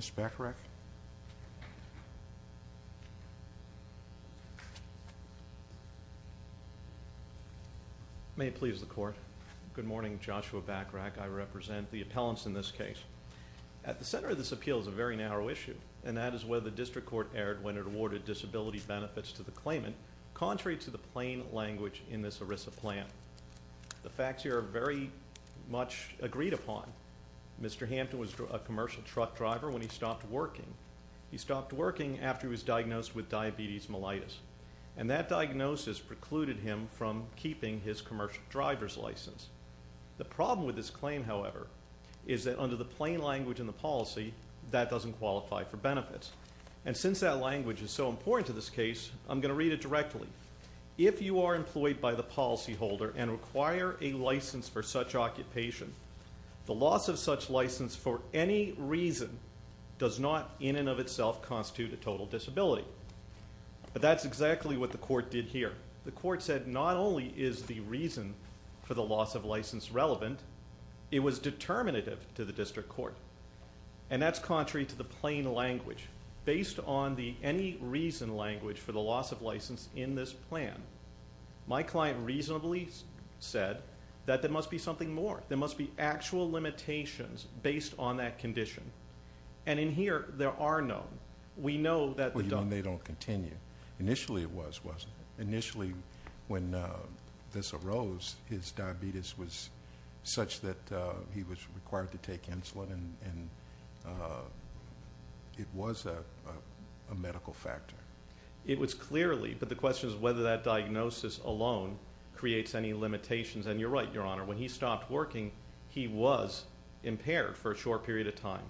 Mr. Bachrach. May it please the court. Good morning, Joshua Bachrach. I represent the appellants in this case. At the center of this appeal is a very narrow issue, and that is whether the district court erred when it awarded disability benefits to the claimant, contrary to the plain language in this ERISA plan. The facts here are very much agreed upon. Mr. Hampton was a commercial truck driver when he stopped working. He stopped working after he was diagnosed with diabetes mellitus, and that diagnosis precluded him from keeping his commercial driver's license. The problem with this claim, however, is that under the plain language in the policy, that doesn't qualify for benefits. And since that language is so important to this case, I'm going to read it directly. If you are employed by the policyholder and require a license for such occupation, the loss of such license for any reason does not in and of itself constitute a total disability. But that's exactly what the court did here. The court said not only is the reason for the loss of license relevant, it was determinative to the district court. And that's contrary to the plain language. Based on the any reason language for the loss of license in this plan, my client reasonably said that there must be something more. There must be actual limitations based on that condition. And in here, there are none. We know that they don't continue. Initially it was. Initially when this arose, his diabetes was such that he was required to take insulin, and it was a medical factor. It was clearly, but the question is whether that diagnosis alone creates any limitations. And you're right, Your Honor. When he stopped working, he was impaired for a short period of time.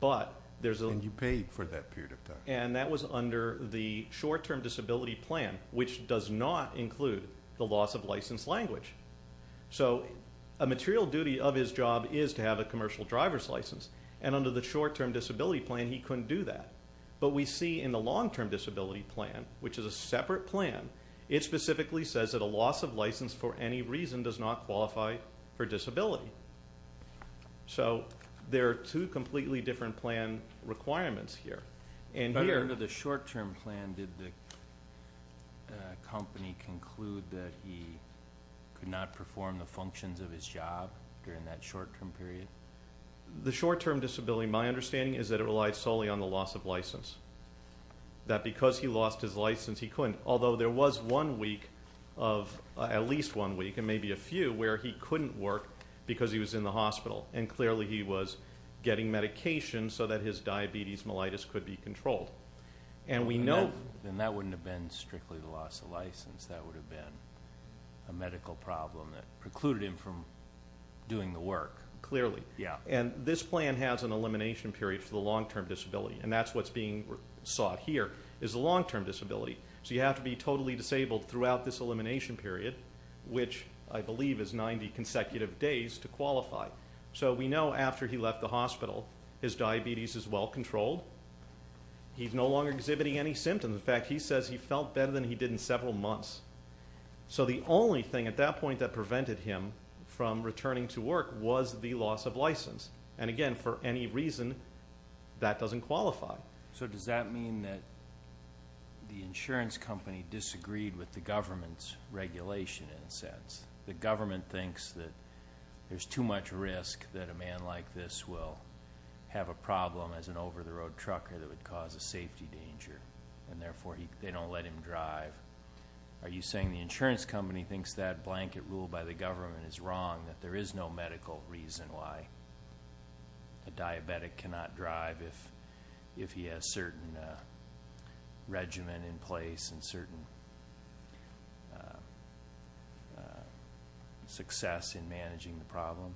But there's a... And you paid for that period of time. And that was under the short-term disability plan, which does not include the loss of license language. So a material duty of his job is to have a commercial driver's license. And under the short-term disability plan, he couldn't do that. But we see in the long-term disability plan, which is a separate plan, it specifically says that a loss of license for any reason does not qualify for disability. So there are two completely different plan requirements here. And here... But under the short-term plan, did the company conclude that he could not perform the functions of his job during that short-term period? The short-term disability, my understanding is that it relies solely on the loss of license. That because he lost his license, he couldn't. Although there was one week of... At least one week, and maybe a few, where he couldn't work because he was in the hospital. And clearly he was getting medication so that his diabetes mellitus could be controlled. And we know... Then that wouldn't have been strictly the loss of license. That would have been a medical problem that precluded him from doing the work. Clearly. And this plan has an elimination period for the long-term disability. And that's what's being sought here, is the long-term disability. So you have to be totally disabled throughout this elimination period, which I believe is 90 consecutive days to qualify. So we know after he left the hospital, his diabetes is well-controlled. He's no longer exhibiting any symptoms. In fact, he says he felt better than he did in several months. So the only thing at that point that prevented him from returning to work was the loss of license. And again, for any reason, that doesn't qualify. So does that mean that the insurance company disagreed with the government's regulation in a sense? The government thinks that there's too much risk that a man like this will have a problem as an over-the-road trucker that would cause a safety danger. And therefore they don't let him drive. Are you saying the insurance company thinks that blanket rule by the government is wrong, that there is no medical reason why a diabetic cannot drive if he has certain regimen in place and certain success in managing the problem?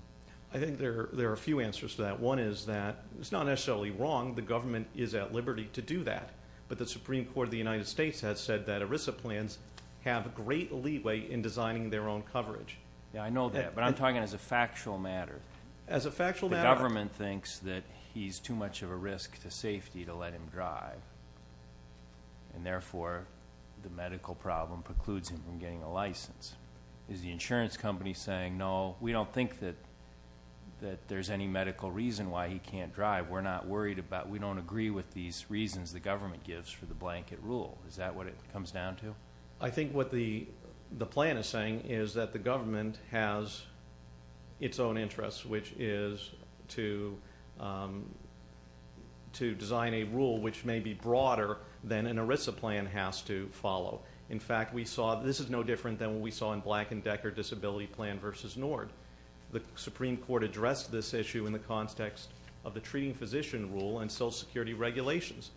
I think there are a few answers to that. One is that it's not necessarily wrong. The government is at liberty to do that. But the Supreme Court of the United States has said that ERISA plans have great leeway in designing their own coverage. Yeah, I know that. But I'm talking as a factual matter. As a factual matter? The government thinks that he's too much of a risk to safety to let him drive. And therefore the medical problem precludes him from getting a license. Is the insurance company saying, no, we don't think that there's any medical reason why he can't drive. We're not worried about, we don't agree with these reasons the government gives for the blanket rule. Is that what it comes down to? I think what the plan is saying is that the government has its own interests, which is to design a rule which may be broader than an ERISA plan has to follow. In fact, we saw that this is no different than what we saw in Black and Decker Disability Plan v. Nord. The Supreme Court addressed this issue in the context of the treating physician rule and Social Security regulations.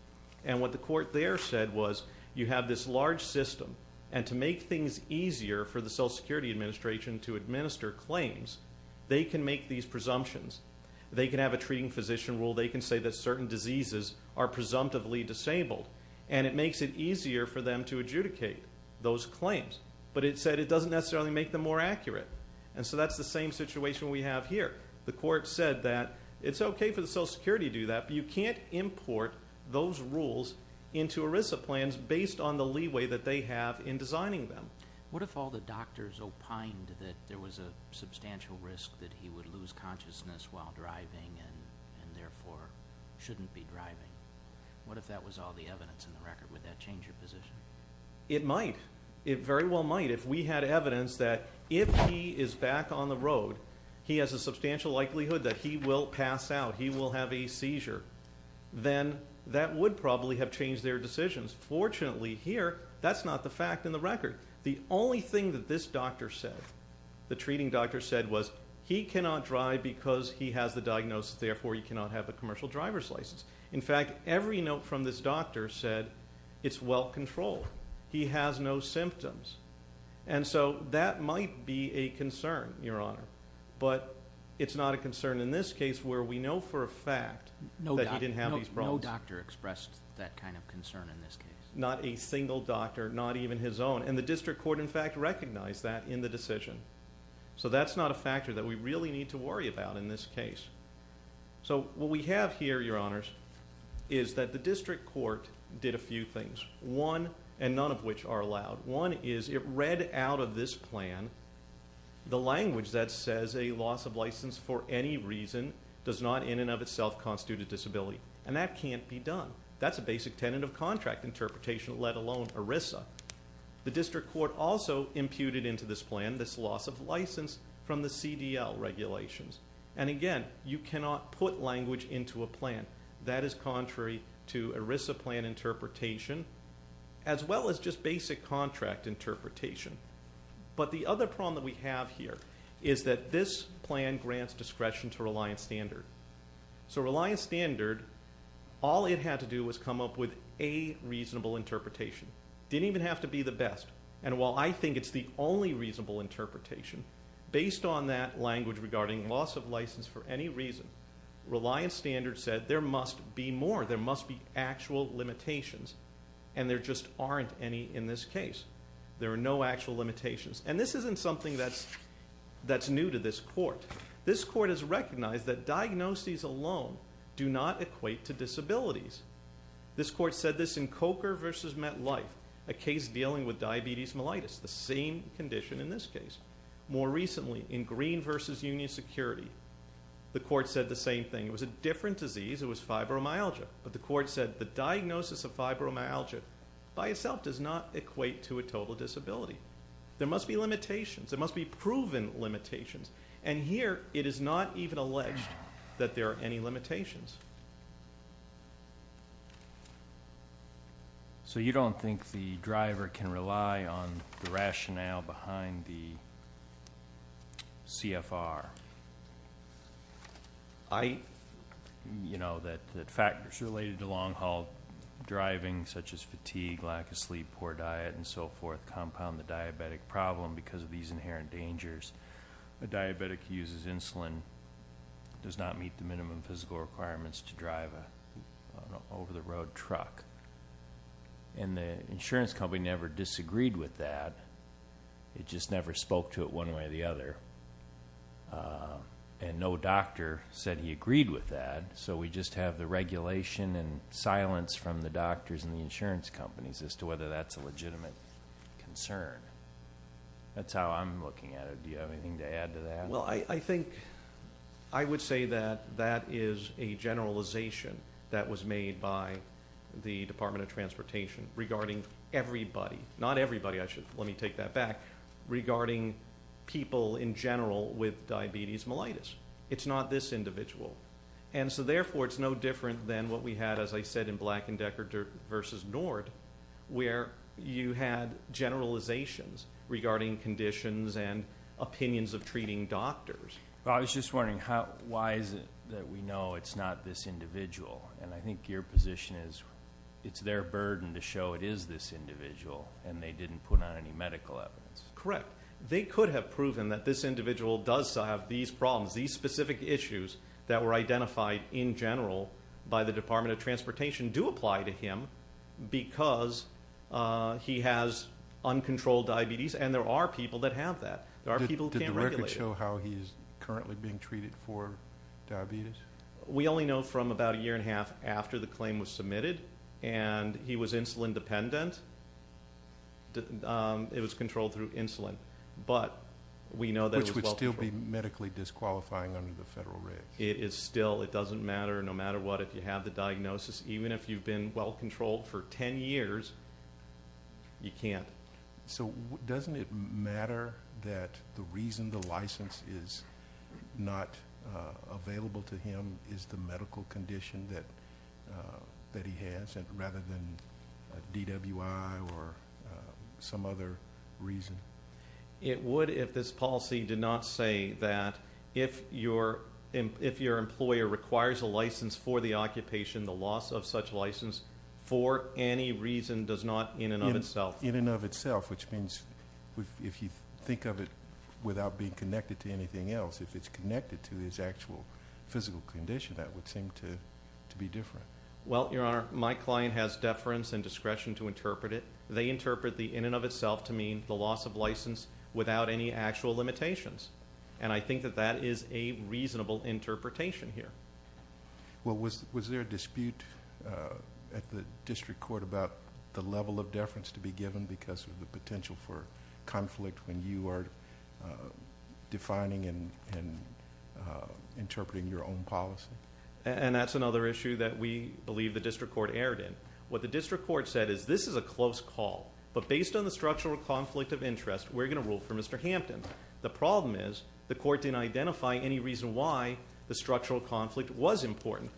And what the court there said was, you have this large system and to make things easier for the Social Security Administration to administer claims, they can make these presumptions. They can have a treating physician rule. They can say that certain diseases are presumptively disabled. And it makes it easier for them to adjudicate those claims. But it said it doesn't necessarily make them more accurate. And so that's the same situation we have here. The court said that it's okay for the Social Security to do that, but you can't import those rules into ERISA plans based on the leeway that they have in designing them. What if all the doctors opined that there was a substantial risk that he would lose consciousness while driving and therefore shouldn't be driving? What if that was all the evidence in the record? Would that change your position? It might. It very well might. If we had evidence that if he is back on the road, he has a substantial likelihood that he will pass out, he will have a seizure, then that would probably have changed their decisions. Fortunately here, that's not the fact in the record. The only thing that this doctor said, the treating doctor said, was he cannot drive because he has the diagnosis, therefore he cannot have a commercial driver's license. In fact, every note from this doctor said, it's well controlled. He has no symptoms. And so that might be a concern, Your Honor. But it's not a concern in this case where we know for a fact that he didn't have these problems. No doctor expressed that kind of concern in this case? Not a single doctor, not even his own. And the District Court in fact recognized that in the decision. So that's not a factor that we really need to worry about in this case. So what we have here, Your Honors, is that the District Court did a few things. One, and none of which are allowed. One is, it read out of this plan the language that says a loss of license for any reason does not in and of itself constitute a disability. And that can't be done. That's a basic tenant of contract interpretation, let alone ERISA. The District Court also imputed into this plan this loss of license from the CDL regulations. And again, you cannot put language into a plan. That is contrary to ERISA plan interpretation, as well as just basic contract interpretation. But the other problem that we have here is that this plan grants discretion to Reliance Standard. So Reliance Standard, all it had to do was come up with a reasonable interpretation. It didn't even have to be the best. And while I think it's the only reasonable interpretation, based on that language regarding loss of license for any reason, Reliance Standard said there must be more. There must be actual limitations. And there just aren't any in this case. There are no actual limitations. And this isn't something that's new to this Court. This Court has recognized that diagnoses alone do not equate to disabilities. This Court said this in Coker v. MetLife, a case more recently in Green v. Union Security. The Court said the same thing. It was a different disease. It was fibromyalgia. But the Court said the diagnosis of fibromyalgia by itself does not equate to a total disability. There must be limitations. There must be proven limitations. And here, it is not even alleged that there are any limitations. So you don't think the driver can rely on the rationale behind the CFR? I, you know, that factors related to long-haul driving, such as fatigue, lack of sleep, poor diet and so forth, compound the diabetic problem because of these inherent dangers. A diabetic uses insulin, does not meet the minimum physical requirements to drive an over-the-road truck. And the insurance company never disagreed with that. It just never spoke to it one way or the other. And no doctor said he agreed with that. So we just have the regulation and silence from the doctors and the insurance companies as to whether that's a legitimate concern. That's how I'm looking at it. Do you have anything to add to that? Well, I think, I would say that that is a generalization that was made by the Department of Transportation regarding everybody, not everybody, I should, let me take that back, regarding people in general with diabetes mellitus. It's not this individual. And so therefore it's no different than what we had, as I said, in Black and Decker v. Nord, where you had generalizations regarding conditions and opinions of treating doctors. Well, I was just wondering, why is it that we know it's not this individual? And I think your position is it's their burden to show it is this individual and they didn't put on any medical evidence. Correct. They could have proven that this individual does have these problems, these specific issues that were identified in general by the Department of Transportation do apply to him because he has uncontrolled diabetes and there are people that have that. There are people who can't regulate it. Did the records show how he is currently being treated for diabetes? We only know from about a year and a half after the claim was submitted and he was insulin dependent. It was controlled through insulin, but we know that it was well controlled. Which would still be medically disqualifying under the federal rates. It is still. It doesn't matter no matter what, if you have the diagnosis, even if you've been well controlled for 10 years, you can't. So doesn't it matter that the reason the license is not available to him is the medical condition that he has rather than DWI or some other reason? It would if this policy did not say that if your employer requires a license for the occupation, the loss of such license for any reason does not in and of itself. In and of itself, which means if you think of it without being connected to anything else, if it's connected to his actual physical condition, that would seem to be different. Well, Your Honor, my client has deference and discretion to interpret it. They interpret the in and of itself to mean the loss of license without any actual limitations. And I think that that is a reasonable interpretation here. Well, was there a dispute at the district court about the level of deference to be given because of the potential for conflict when you are defining and interpreting your own policy? And that's another issue that we believe the district court erred in. What the district court said is this is a close call, but based on the structural conflict of interest, we're going to rule for Mr. Hampton. The problem is the court didn't identify any reason why the structural conflict was important.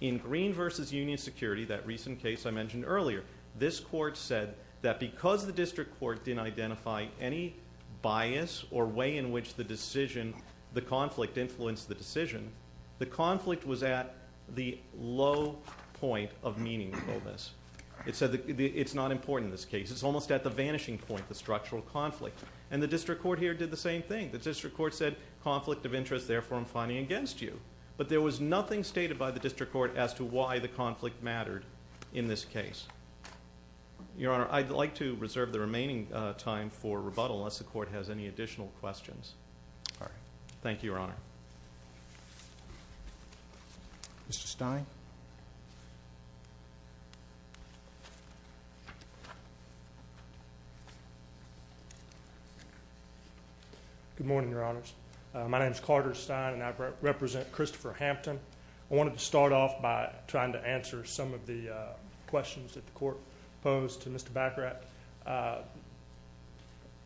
In Green v. Union Security, that recent case I mentioned earlier, this court said that because the district court didn't identify any bias or way in which the decision, the conflict influenced the decision, the conflict was at the low point of meaningfulness. It said it's not important in this case. It's almost at the vanishing point, the structural conflict. And the district court here did the same thing. The district court said conflict of interest, therefore, I'm fighting against you. But there was nothing stated by the district court as to why the conflict mattered in this case. Your Honor, I'd like to reserve the remaining time for rebuttal unless the court has any additional questions. Thank you, Your Honor. Mr. Stein? Good morning, Your Honors. My name is Carter Stein and I represent Christopher Hampton. I wanted to start off by trying to answer some of the questions that the court posed to Mr. Bacarat,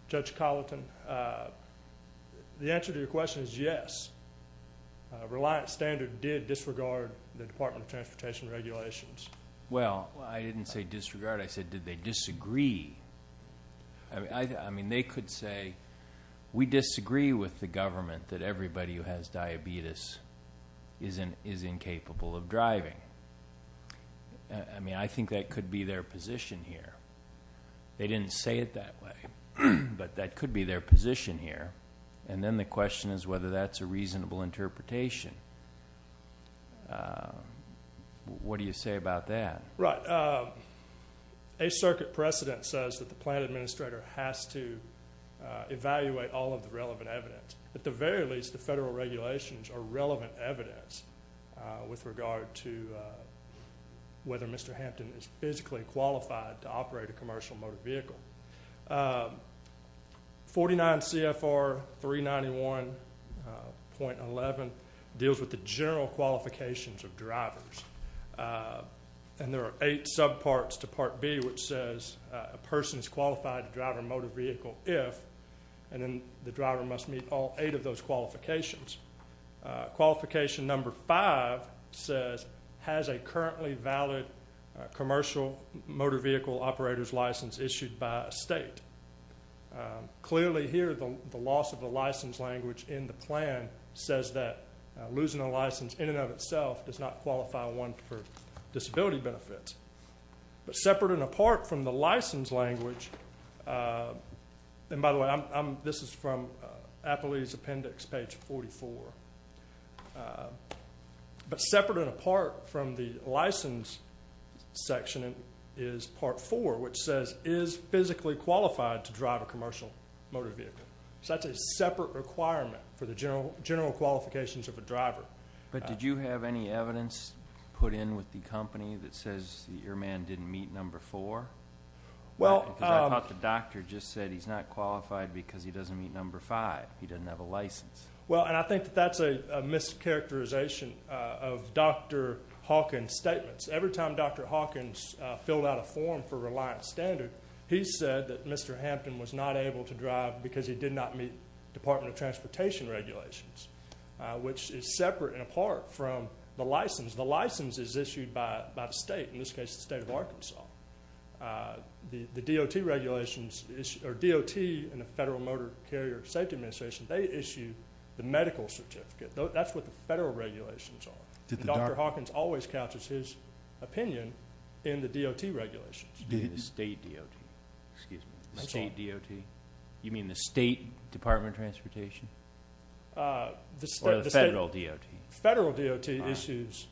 Judge Colleton. The answer to your question is yes. Reliant Standard did disregard the Department of Transportation regulations. Well, I didn't say disregard. I said did they disagree? I mean, they could say we disagree with the government that everybody who has diabetes is incapable of driving. I mean, I think that could be their position here. They didn't say it that way, but that could be their position here. And then the question is whether that's a reasonable interpretation. What do you say about that? Right. A circuit precedent says that the plan administrator has to evaluate all of the relevant evidence. At the very least, the federal regulations are relevant evidence with regard to whether Mr. Hampton is physically qualified to operate a commercial motor vehicle. 49 CFR 391.11 deals with the general qualifications of drivers. And there are eight subparts to Part B which says a person is qualified to drive a motor vehicle if, and then the driver must meet all eight of those qualifications. Qualification number five says has a currently valid commercial motor vehicle operator's license issued by a state. Clearly here, the loss of the license language in the plan says that losing a license in and of itself does not qualify one for disability benefits. But separate and apart from the license language, and by the way, this is from Appley's appendix page 44. But separate and apart from the license section is Part 4 which says is physically qualified to drive a commercial motor vehicle. So that's a separate requirement for the general qualifications of a driver. But did you have any evidence put in with the company that says the airman didn't meet number four? Well, I thought the doctor just said he's not qualified because he doesn't meet number five. He doesn't have a license. Well, and I think that's a mischaracterization of Dr. Hawkins' statements. Every time Dr. Hawkins filled out a form for reliance standard, he said that Mr. Hampton was not able to drive because he did not meet Department of Transportation regulations, which is separate and apart from the license. The license is issued by the state, in this case the state of Arkansas. The DOT regulations, or DOT and the Federal Motor Carrier Safety Administration, they issue the medical certificate. That's what the federal regulations are. Dr. Hawkins always couches his opinion in the DOT regulations. Do you mean the state DOT? Excuse me. The state DOT? You mean the State Department of Transportation? Or the federal DOT? Federal DOT issues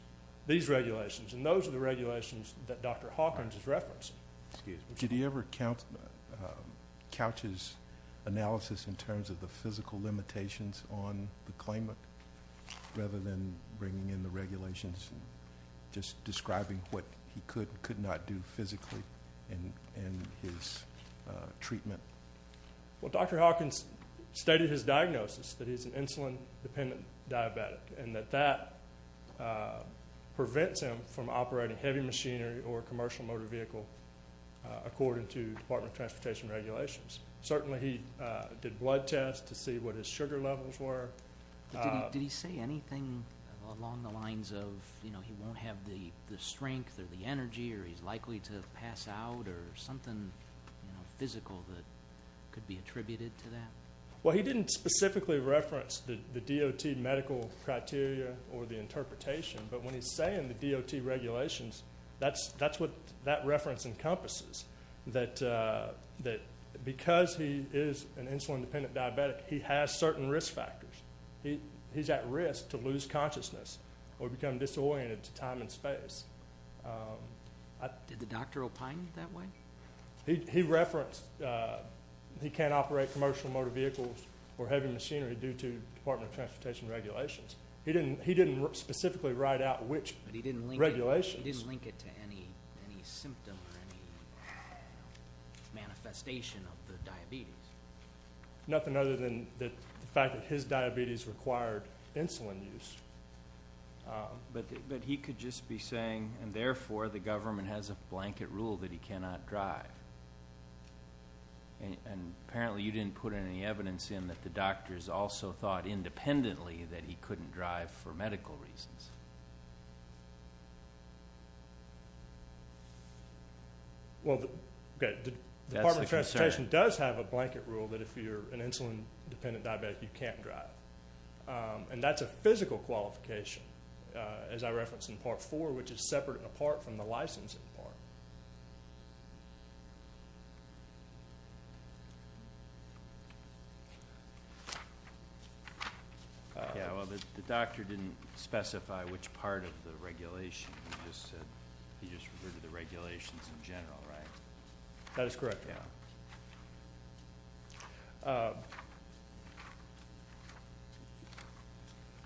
these regulations, and those are the regulations that Dr. Hawkins is referencing. Excuse me. Did he ever couches analysis in terms of the physical limitations on the claimant rather than bringing in the regulations and just describing what he could and could not do physically in his treatment? Well, Dr. Hawkins stated his diagnosis, that he's an insulin-dependent diabetic, and that that prevents him from operating heavy machinery or commercial motor vehicle according to Department of Transportation regulations. Certainly, he did blood tests to see what his sugar levels were. Did he say anything along the lines of, you know, he won't have the strength or the energy or he's likely to pass out or something physical that could be attributed to that? Well, he didn't specifically reference the DOT medical criteria or the interpretation, but when he's saying the DOT regulations, that's what that reference encompasses, that because he is an insulin-dependent diabetic, he has certain risk factors. He's at risk to lose consciousness or become disoriented to time and space. Did the doctor opine that way? He referenced he can't operate commercial motor vehicles or heavy machinery due to Department of Transportation regulations. He didn't specifically write out which regulations. But he didn't link it to any symptom or any manifestation of the diabetes? Nothing other than the fact that his diabetes required insulin use. But he could just be saying, and therefore, the government has a blanket rule that he cannot drive. And apparently, you didn't put any evidence in that the doctors also thought independently that he couldn't drive for medical reasons. Well, the Department of Transportation does have a blanket rule that if you're an insulin-dependent diabetic, you can't drive. And that's a physical qualification, as I referenced in Part 4, which is separate and apart from the licensing part. Yeah, well, the doctor didn't specify which part of the regulation. He just said he just referred to the regulations in general, right? That is correct. Yeah.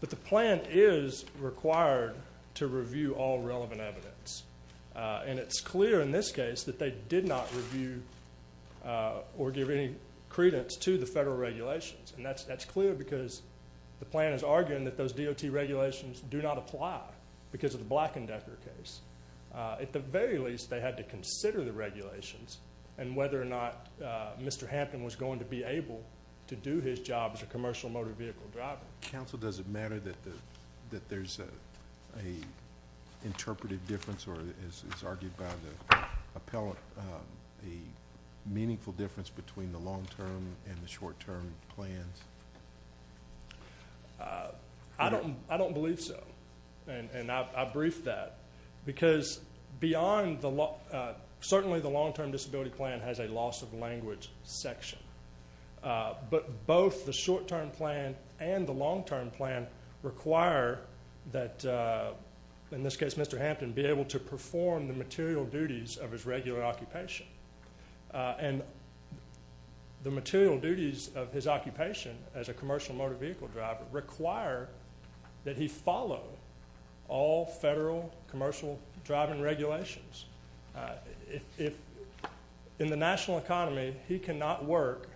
But the plan is required to review all relevant evidence. And it's clear in this case that they did not review or give any credence to the federal regulations. And that's clear because the plan is arguing that those DOT regulations do not apply because of the Black & Decker case. At the very least, they had to consider the regulations and whether or not Mr. Hampton was going to be able to do his job as a commercial motor vehicle driver. Counsel, does it matter that there's an interpretive difference or, as argued by the appellant, a meaningful difference between the long-term and the short-term plans? I don't believe so. And I briefed that. Because certainly the long-term disability plan has a loss of language section. But both the short-term plan and the long-term plan require that, in this case, Mr. Hampton be able to perform the material duties of his regular occupation. And the material duties of his occupation as a commercial motor vehicle driver require that he follow all federal commercial driving regulations. In the national economy, he cannot work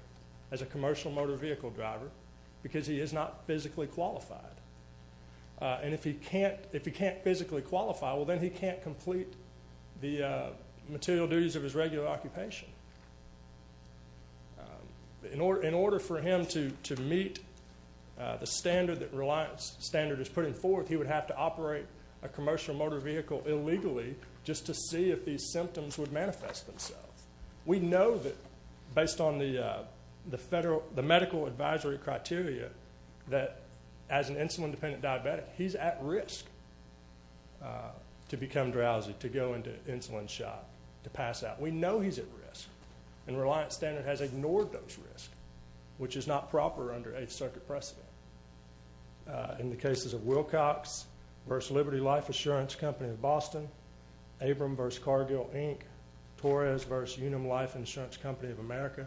as a commercial motor vehicle driver because he is not physically qualified. And if he can't physically qualify, well, then he can't complete the material duties of his regular occupation. In order for him to meet the standard that Reliance Standard is putting forth, he would have to operate a commercial motor vehicle illegally just to see if these symptoms would manifest themselves. We know that, based on the medical advisory criteria, that as an insulin-dependent diabetic, he's at risk to become drowsy, to go into an insulin shot, to pass out. We know he's at risk. And Reliance Standard has ignored those risks, which is not proper under Eighth Circuit precedent. In the cases of Wilcox v. Liberty Life Insurance Company of Boston, Abram v. Cargill, Inc., Torres v. Unum Life Insurance Company of America,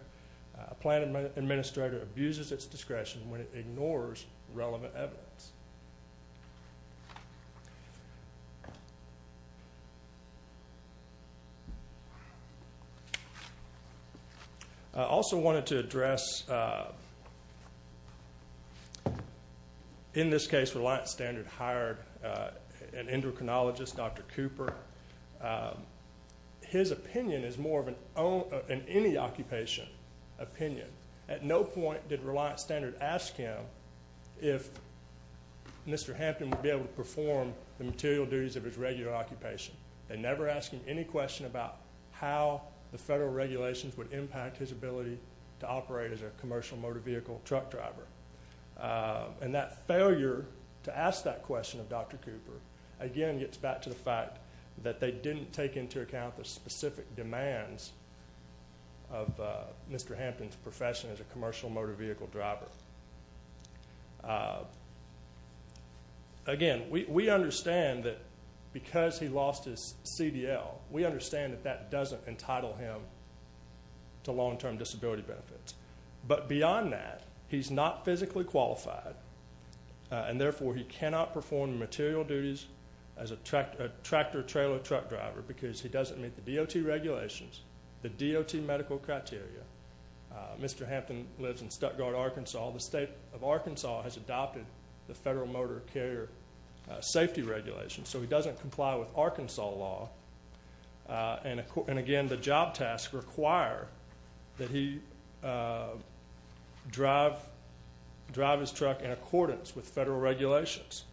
a plan administrator abuses its discretion when it ignores relevant evidence. I also wanted to address, in this case, Reliance Standard hired an endocrinologist, Dr. Cooper. His opinion is more of an any-occupation opinion. At no point did Reliance Standard ask him if Mr. Hampton would be able to perform the material duties of his regular occupation. They never asked him any question about how the federal regulations would impact his ability to operate as a commercial motor vehicle truck driver. And that failure to ask that question of Dr. Cooper, again, gets back to the fact that they didn't take into account the specific demands of Mr. Hampton's profession as a commercial motor vehicle driver. Again, we understand that because he lost his CDL, we understand that that doesn't entitle him to long-term disability benefits. But beyond that, he's not physically qualified, and therefore he cannot perform material duties as a tractor-trailer truck driver because he doesn't meet the DOT regulations, the DOT medical criteria. Mr. Hampton lives in Stuttgart, Arkansas. The state of Arkansas has adopted the Federal Motor Carrier Safety Regulations, so he doesn't comply with Arkansas law. And, again, the job tasks require that he drive his truck in accordance with federal regulations,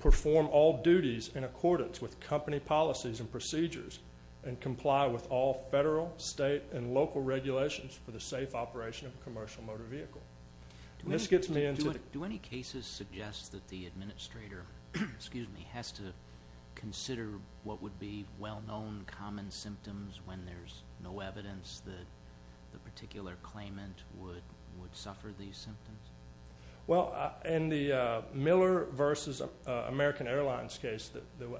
perform all duties in accordance with company policies and procedures, and comply with all federal, state, and local regulations for the safe operation of a commercial motor vehicle. This gets me into... Do any cases suggest that the administrator has to consider what would be well-known common symptoms when there's no evidence that the particular claimant would suffer these symptoms? Well, in the Miller versus American Airlines case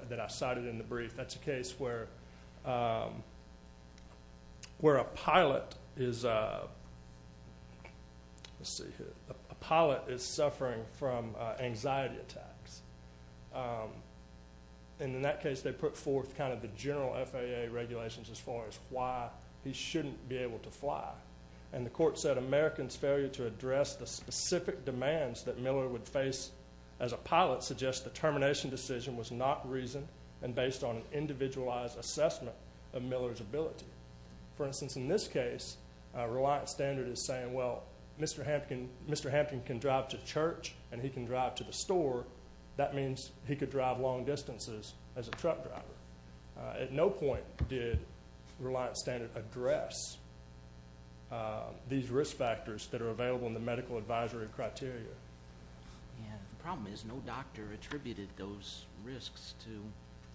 that I cited in the brief, that's a case where a pilot is suffering from anxiety attacks. And in that case, they put forth kind of the general FAA regulations as far as why he shouldn't be able to fly. And the court said, to address the specific demands that Miller would face as a pilot suggests the termination decision was not reasoned and based on an individualized assessment of Miller's ability. For instance, in this case, Reliant Standard is saying, well, Mr. Hampton can drive to church and he can drive to the store. That means he could drive long distances as a truck driver. At no point did Reliant Standard address these risk factors that are available in the medical advisory criteria. Yeah, the problem is no doctor attributed those risks to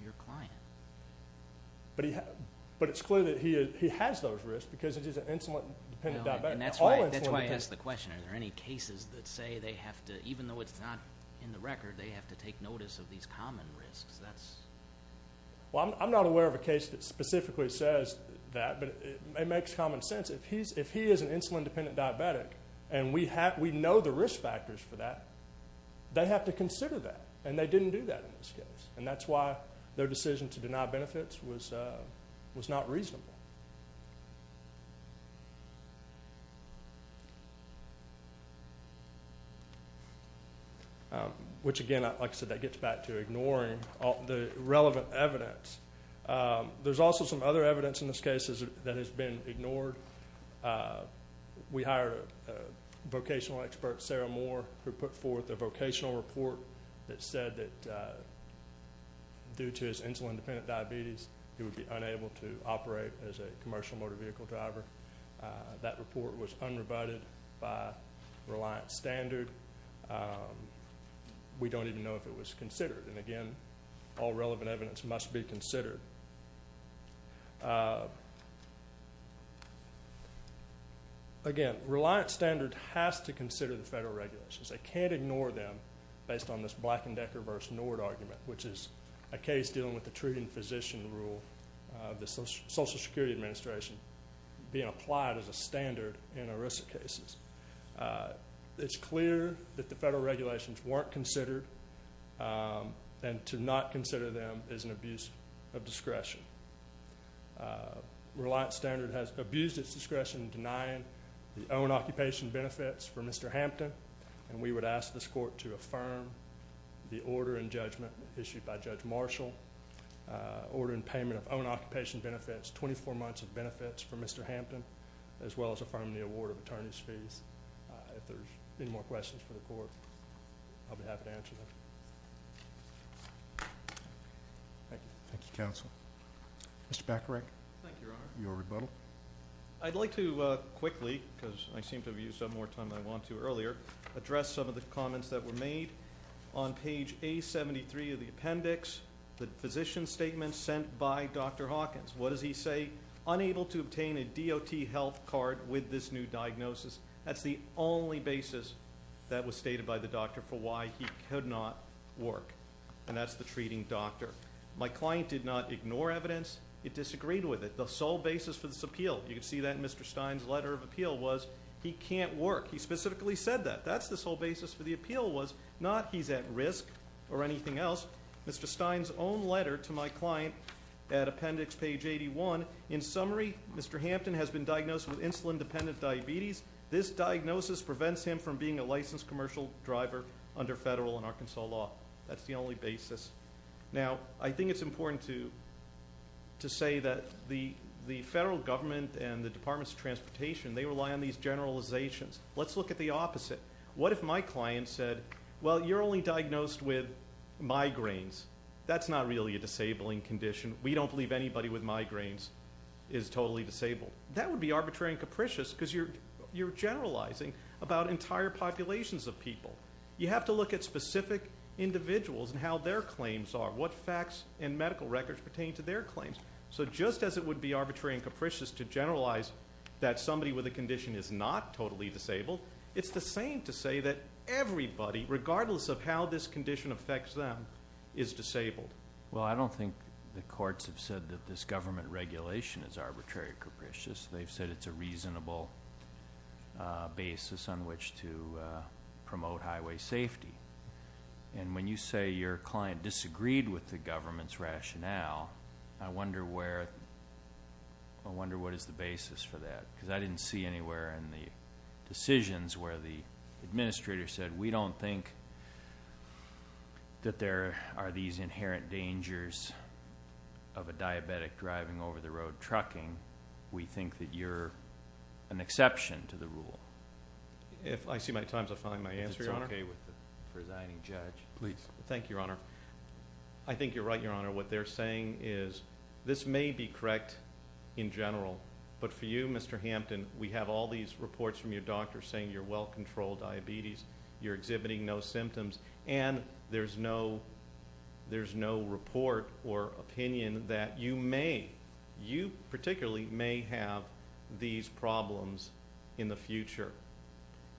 your client. But it's clear that he has those risks because it is an insulin-dependent diabetic. That's why I asked the question, are there any cases that say they have to, even though it's not in the record, they have to take notice of these common risks? Well, I'm not aware of a case that specifically says that, but it makes common sense. If he is an insulin-dependent diabetic and we know the risk factors for that, they have to consider that, and they didn't do that in this case. And that's why their decision to deny benefits was not reasonable. Okay. Which, again, like I said, that gets back to ignoring the relevant evidence. There's also some other evidence in this case that has been ignored. We hired a vocational expert, Sarah Moore, who put forth a vocational report that said that due to his insulin-dependent diabetes, he would be unable to operate as a commercial motor vehicle driver. That report was unrebutted by Reliant Standard. We don't even know if it was considered. And, again, all relevant evidence must be considered. Again, Reliant Standard has to consider the federal regulations. They can't ignore them based on this Black and Decker versus Nord argument, which is a case dealing with the treating physician rule of the Social Security Administration being applied as a standard in ERISA cases. It's clear that the federal regulations weren't considered, and to not consider them is an abuse of discretion. Reliant Standard has abused its discretion in denying the own occupation benefits for Mr. Hampton, and we would ask this court to affirm the order in judgment issued by Judge Marshall, order in payment of own occupation benefits, 24 months of benefits for Mr. Hampton, as well as affirm the award of attorney's fees. If there's any more questions for the court, I'll be happy to answer them. Thank you. Thank you, counsel. Mr. Bacharach. Thank you, Your Honor. Your rebuttal. I'd like to quickly, because I seem to have used up more time than I wanted to earlier, address some of the comments that were made on page A73 of the appendix, the physician statement sent by Dr. Hawkins. What does he say? Unable to obtain a DOT health card with this new diagnosis. That's the only basis that was stated by the doctor for why he could not work, and that's the treating doctor. My client did not ignore evidence. It disagreed with it. The sole basis for this appeal, you can see that in Mr. Stein's letter of appeal, was he can't work. He specifically said that. That's the sole basis for the appeal was not he's at risk or anything else. Mr. Stein's own letter to my client at appendix page 81, in summary, Mr. Hampton has been diagnosed with insulin-dependent diabetes. This diagnosis prevents him from being a licensed commercial driver under federal and Arkansas law. That's the only basis. Now, I think it's important to say that the federal government and the Department of Transportation, they rely on these generalizations. Let's look at the opposite. What if my client said, well, you're only diagnosed with migraines. That's not really a disabling condition. We don't believe anybody with migraines is totally disabled. That would be arbitrary and capricious because you're generalizing about entire populations of people. You have to look at specific individuals and how their claims are, what facts and medical records pertain to their claims. So just as it would be arbitrary and capricious to generalize that somebody with a condition is not totally disabled, it's the same to say that everybody, regardless of how this condition affects them, is disabled. Well, I don't think the courts have said that this government regulation is arbitrary or capricious. They've said it's a reasonable basis on which to promote highway safety. And when you say your client disagreed with the government's rationale, I wonder where, I wonder what is the basis for that because I didn't see anywhere in the decisions where the administrator said, we don't think that there are these inherent dangers of a diabetic driving over the road trucking. We think that you're an exception to the rule. I see my time's up on my answer, Your Honor. If it's okay with the presiding judge. Please. Thank you, Your Honor. I think you're right, Your Honor. What they're saying is this may be correct in general, but for you, Mr. Hampton, we have all these reports from your doctor saying you're well-controlled diabetes, you're exhibiting no symptoms, and there's no report or opinion that you may, you particularly may have these problems in the future.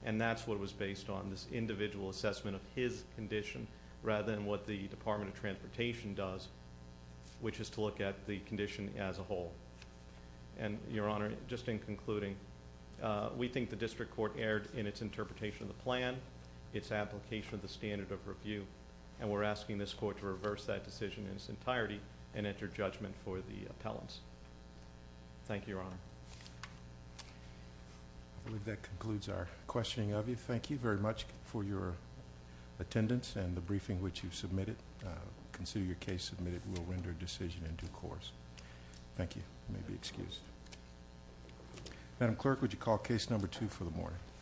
And that's what it was based on, this individual assessment of his condition, rather than what the Department of Transportation does, which is to look at the condition as a whole. And, Your Honor, just in concluding, we think the district court erred in its interpretation of the plan, its application of the standard of review, and we're asking this court to reverse that decision in its entirety and enter judgment for the appellants. Thank you, Your Honor. I believe that concludes our questioning of you. Thank you very much for your attendance and the briefing which you've submitted. Consider your case submitted. We'll render a decision in due course. Thank you. You may be excused. Madam Clerk, would you call case number two for the morning?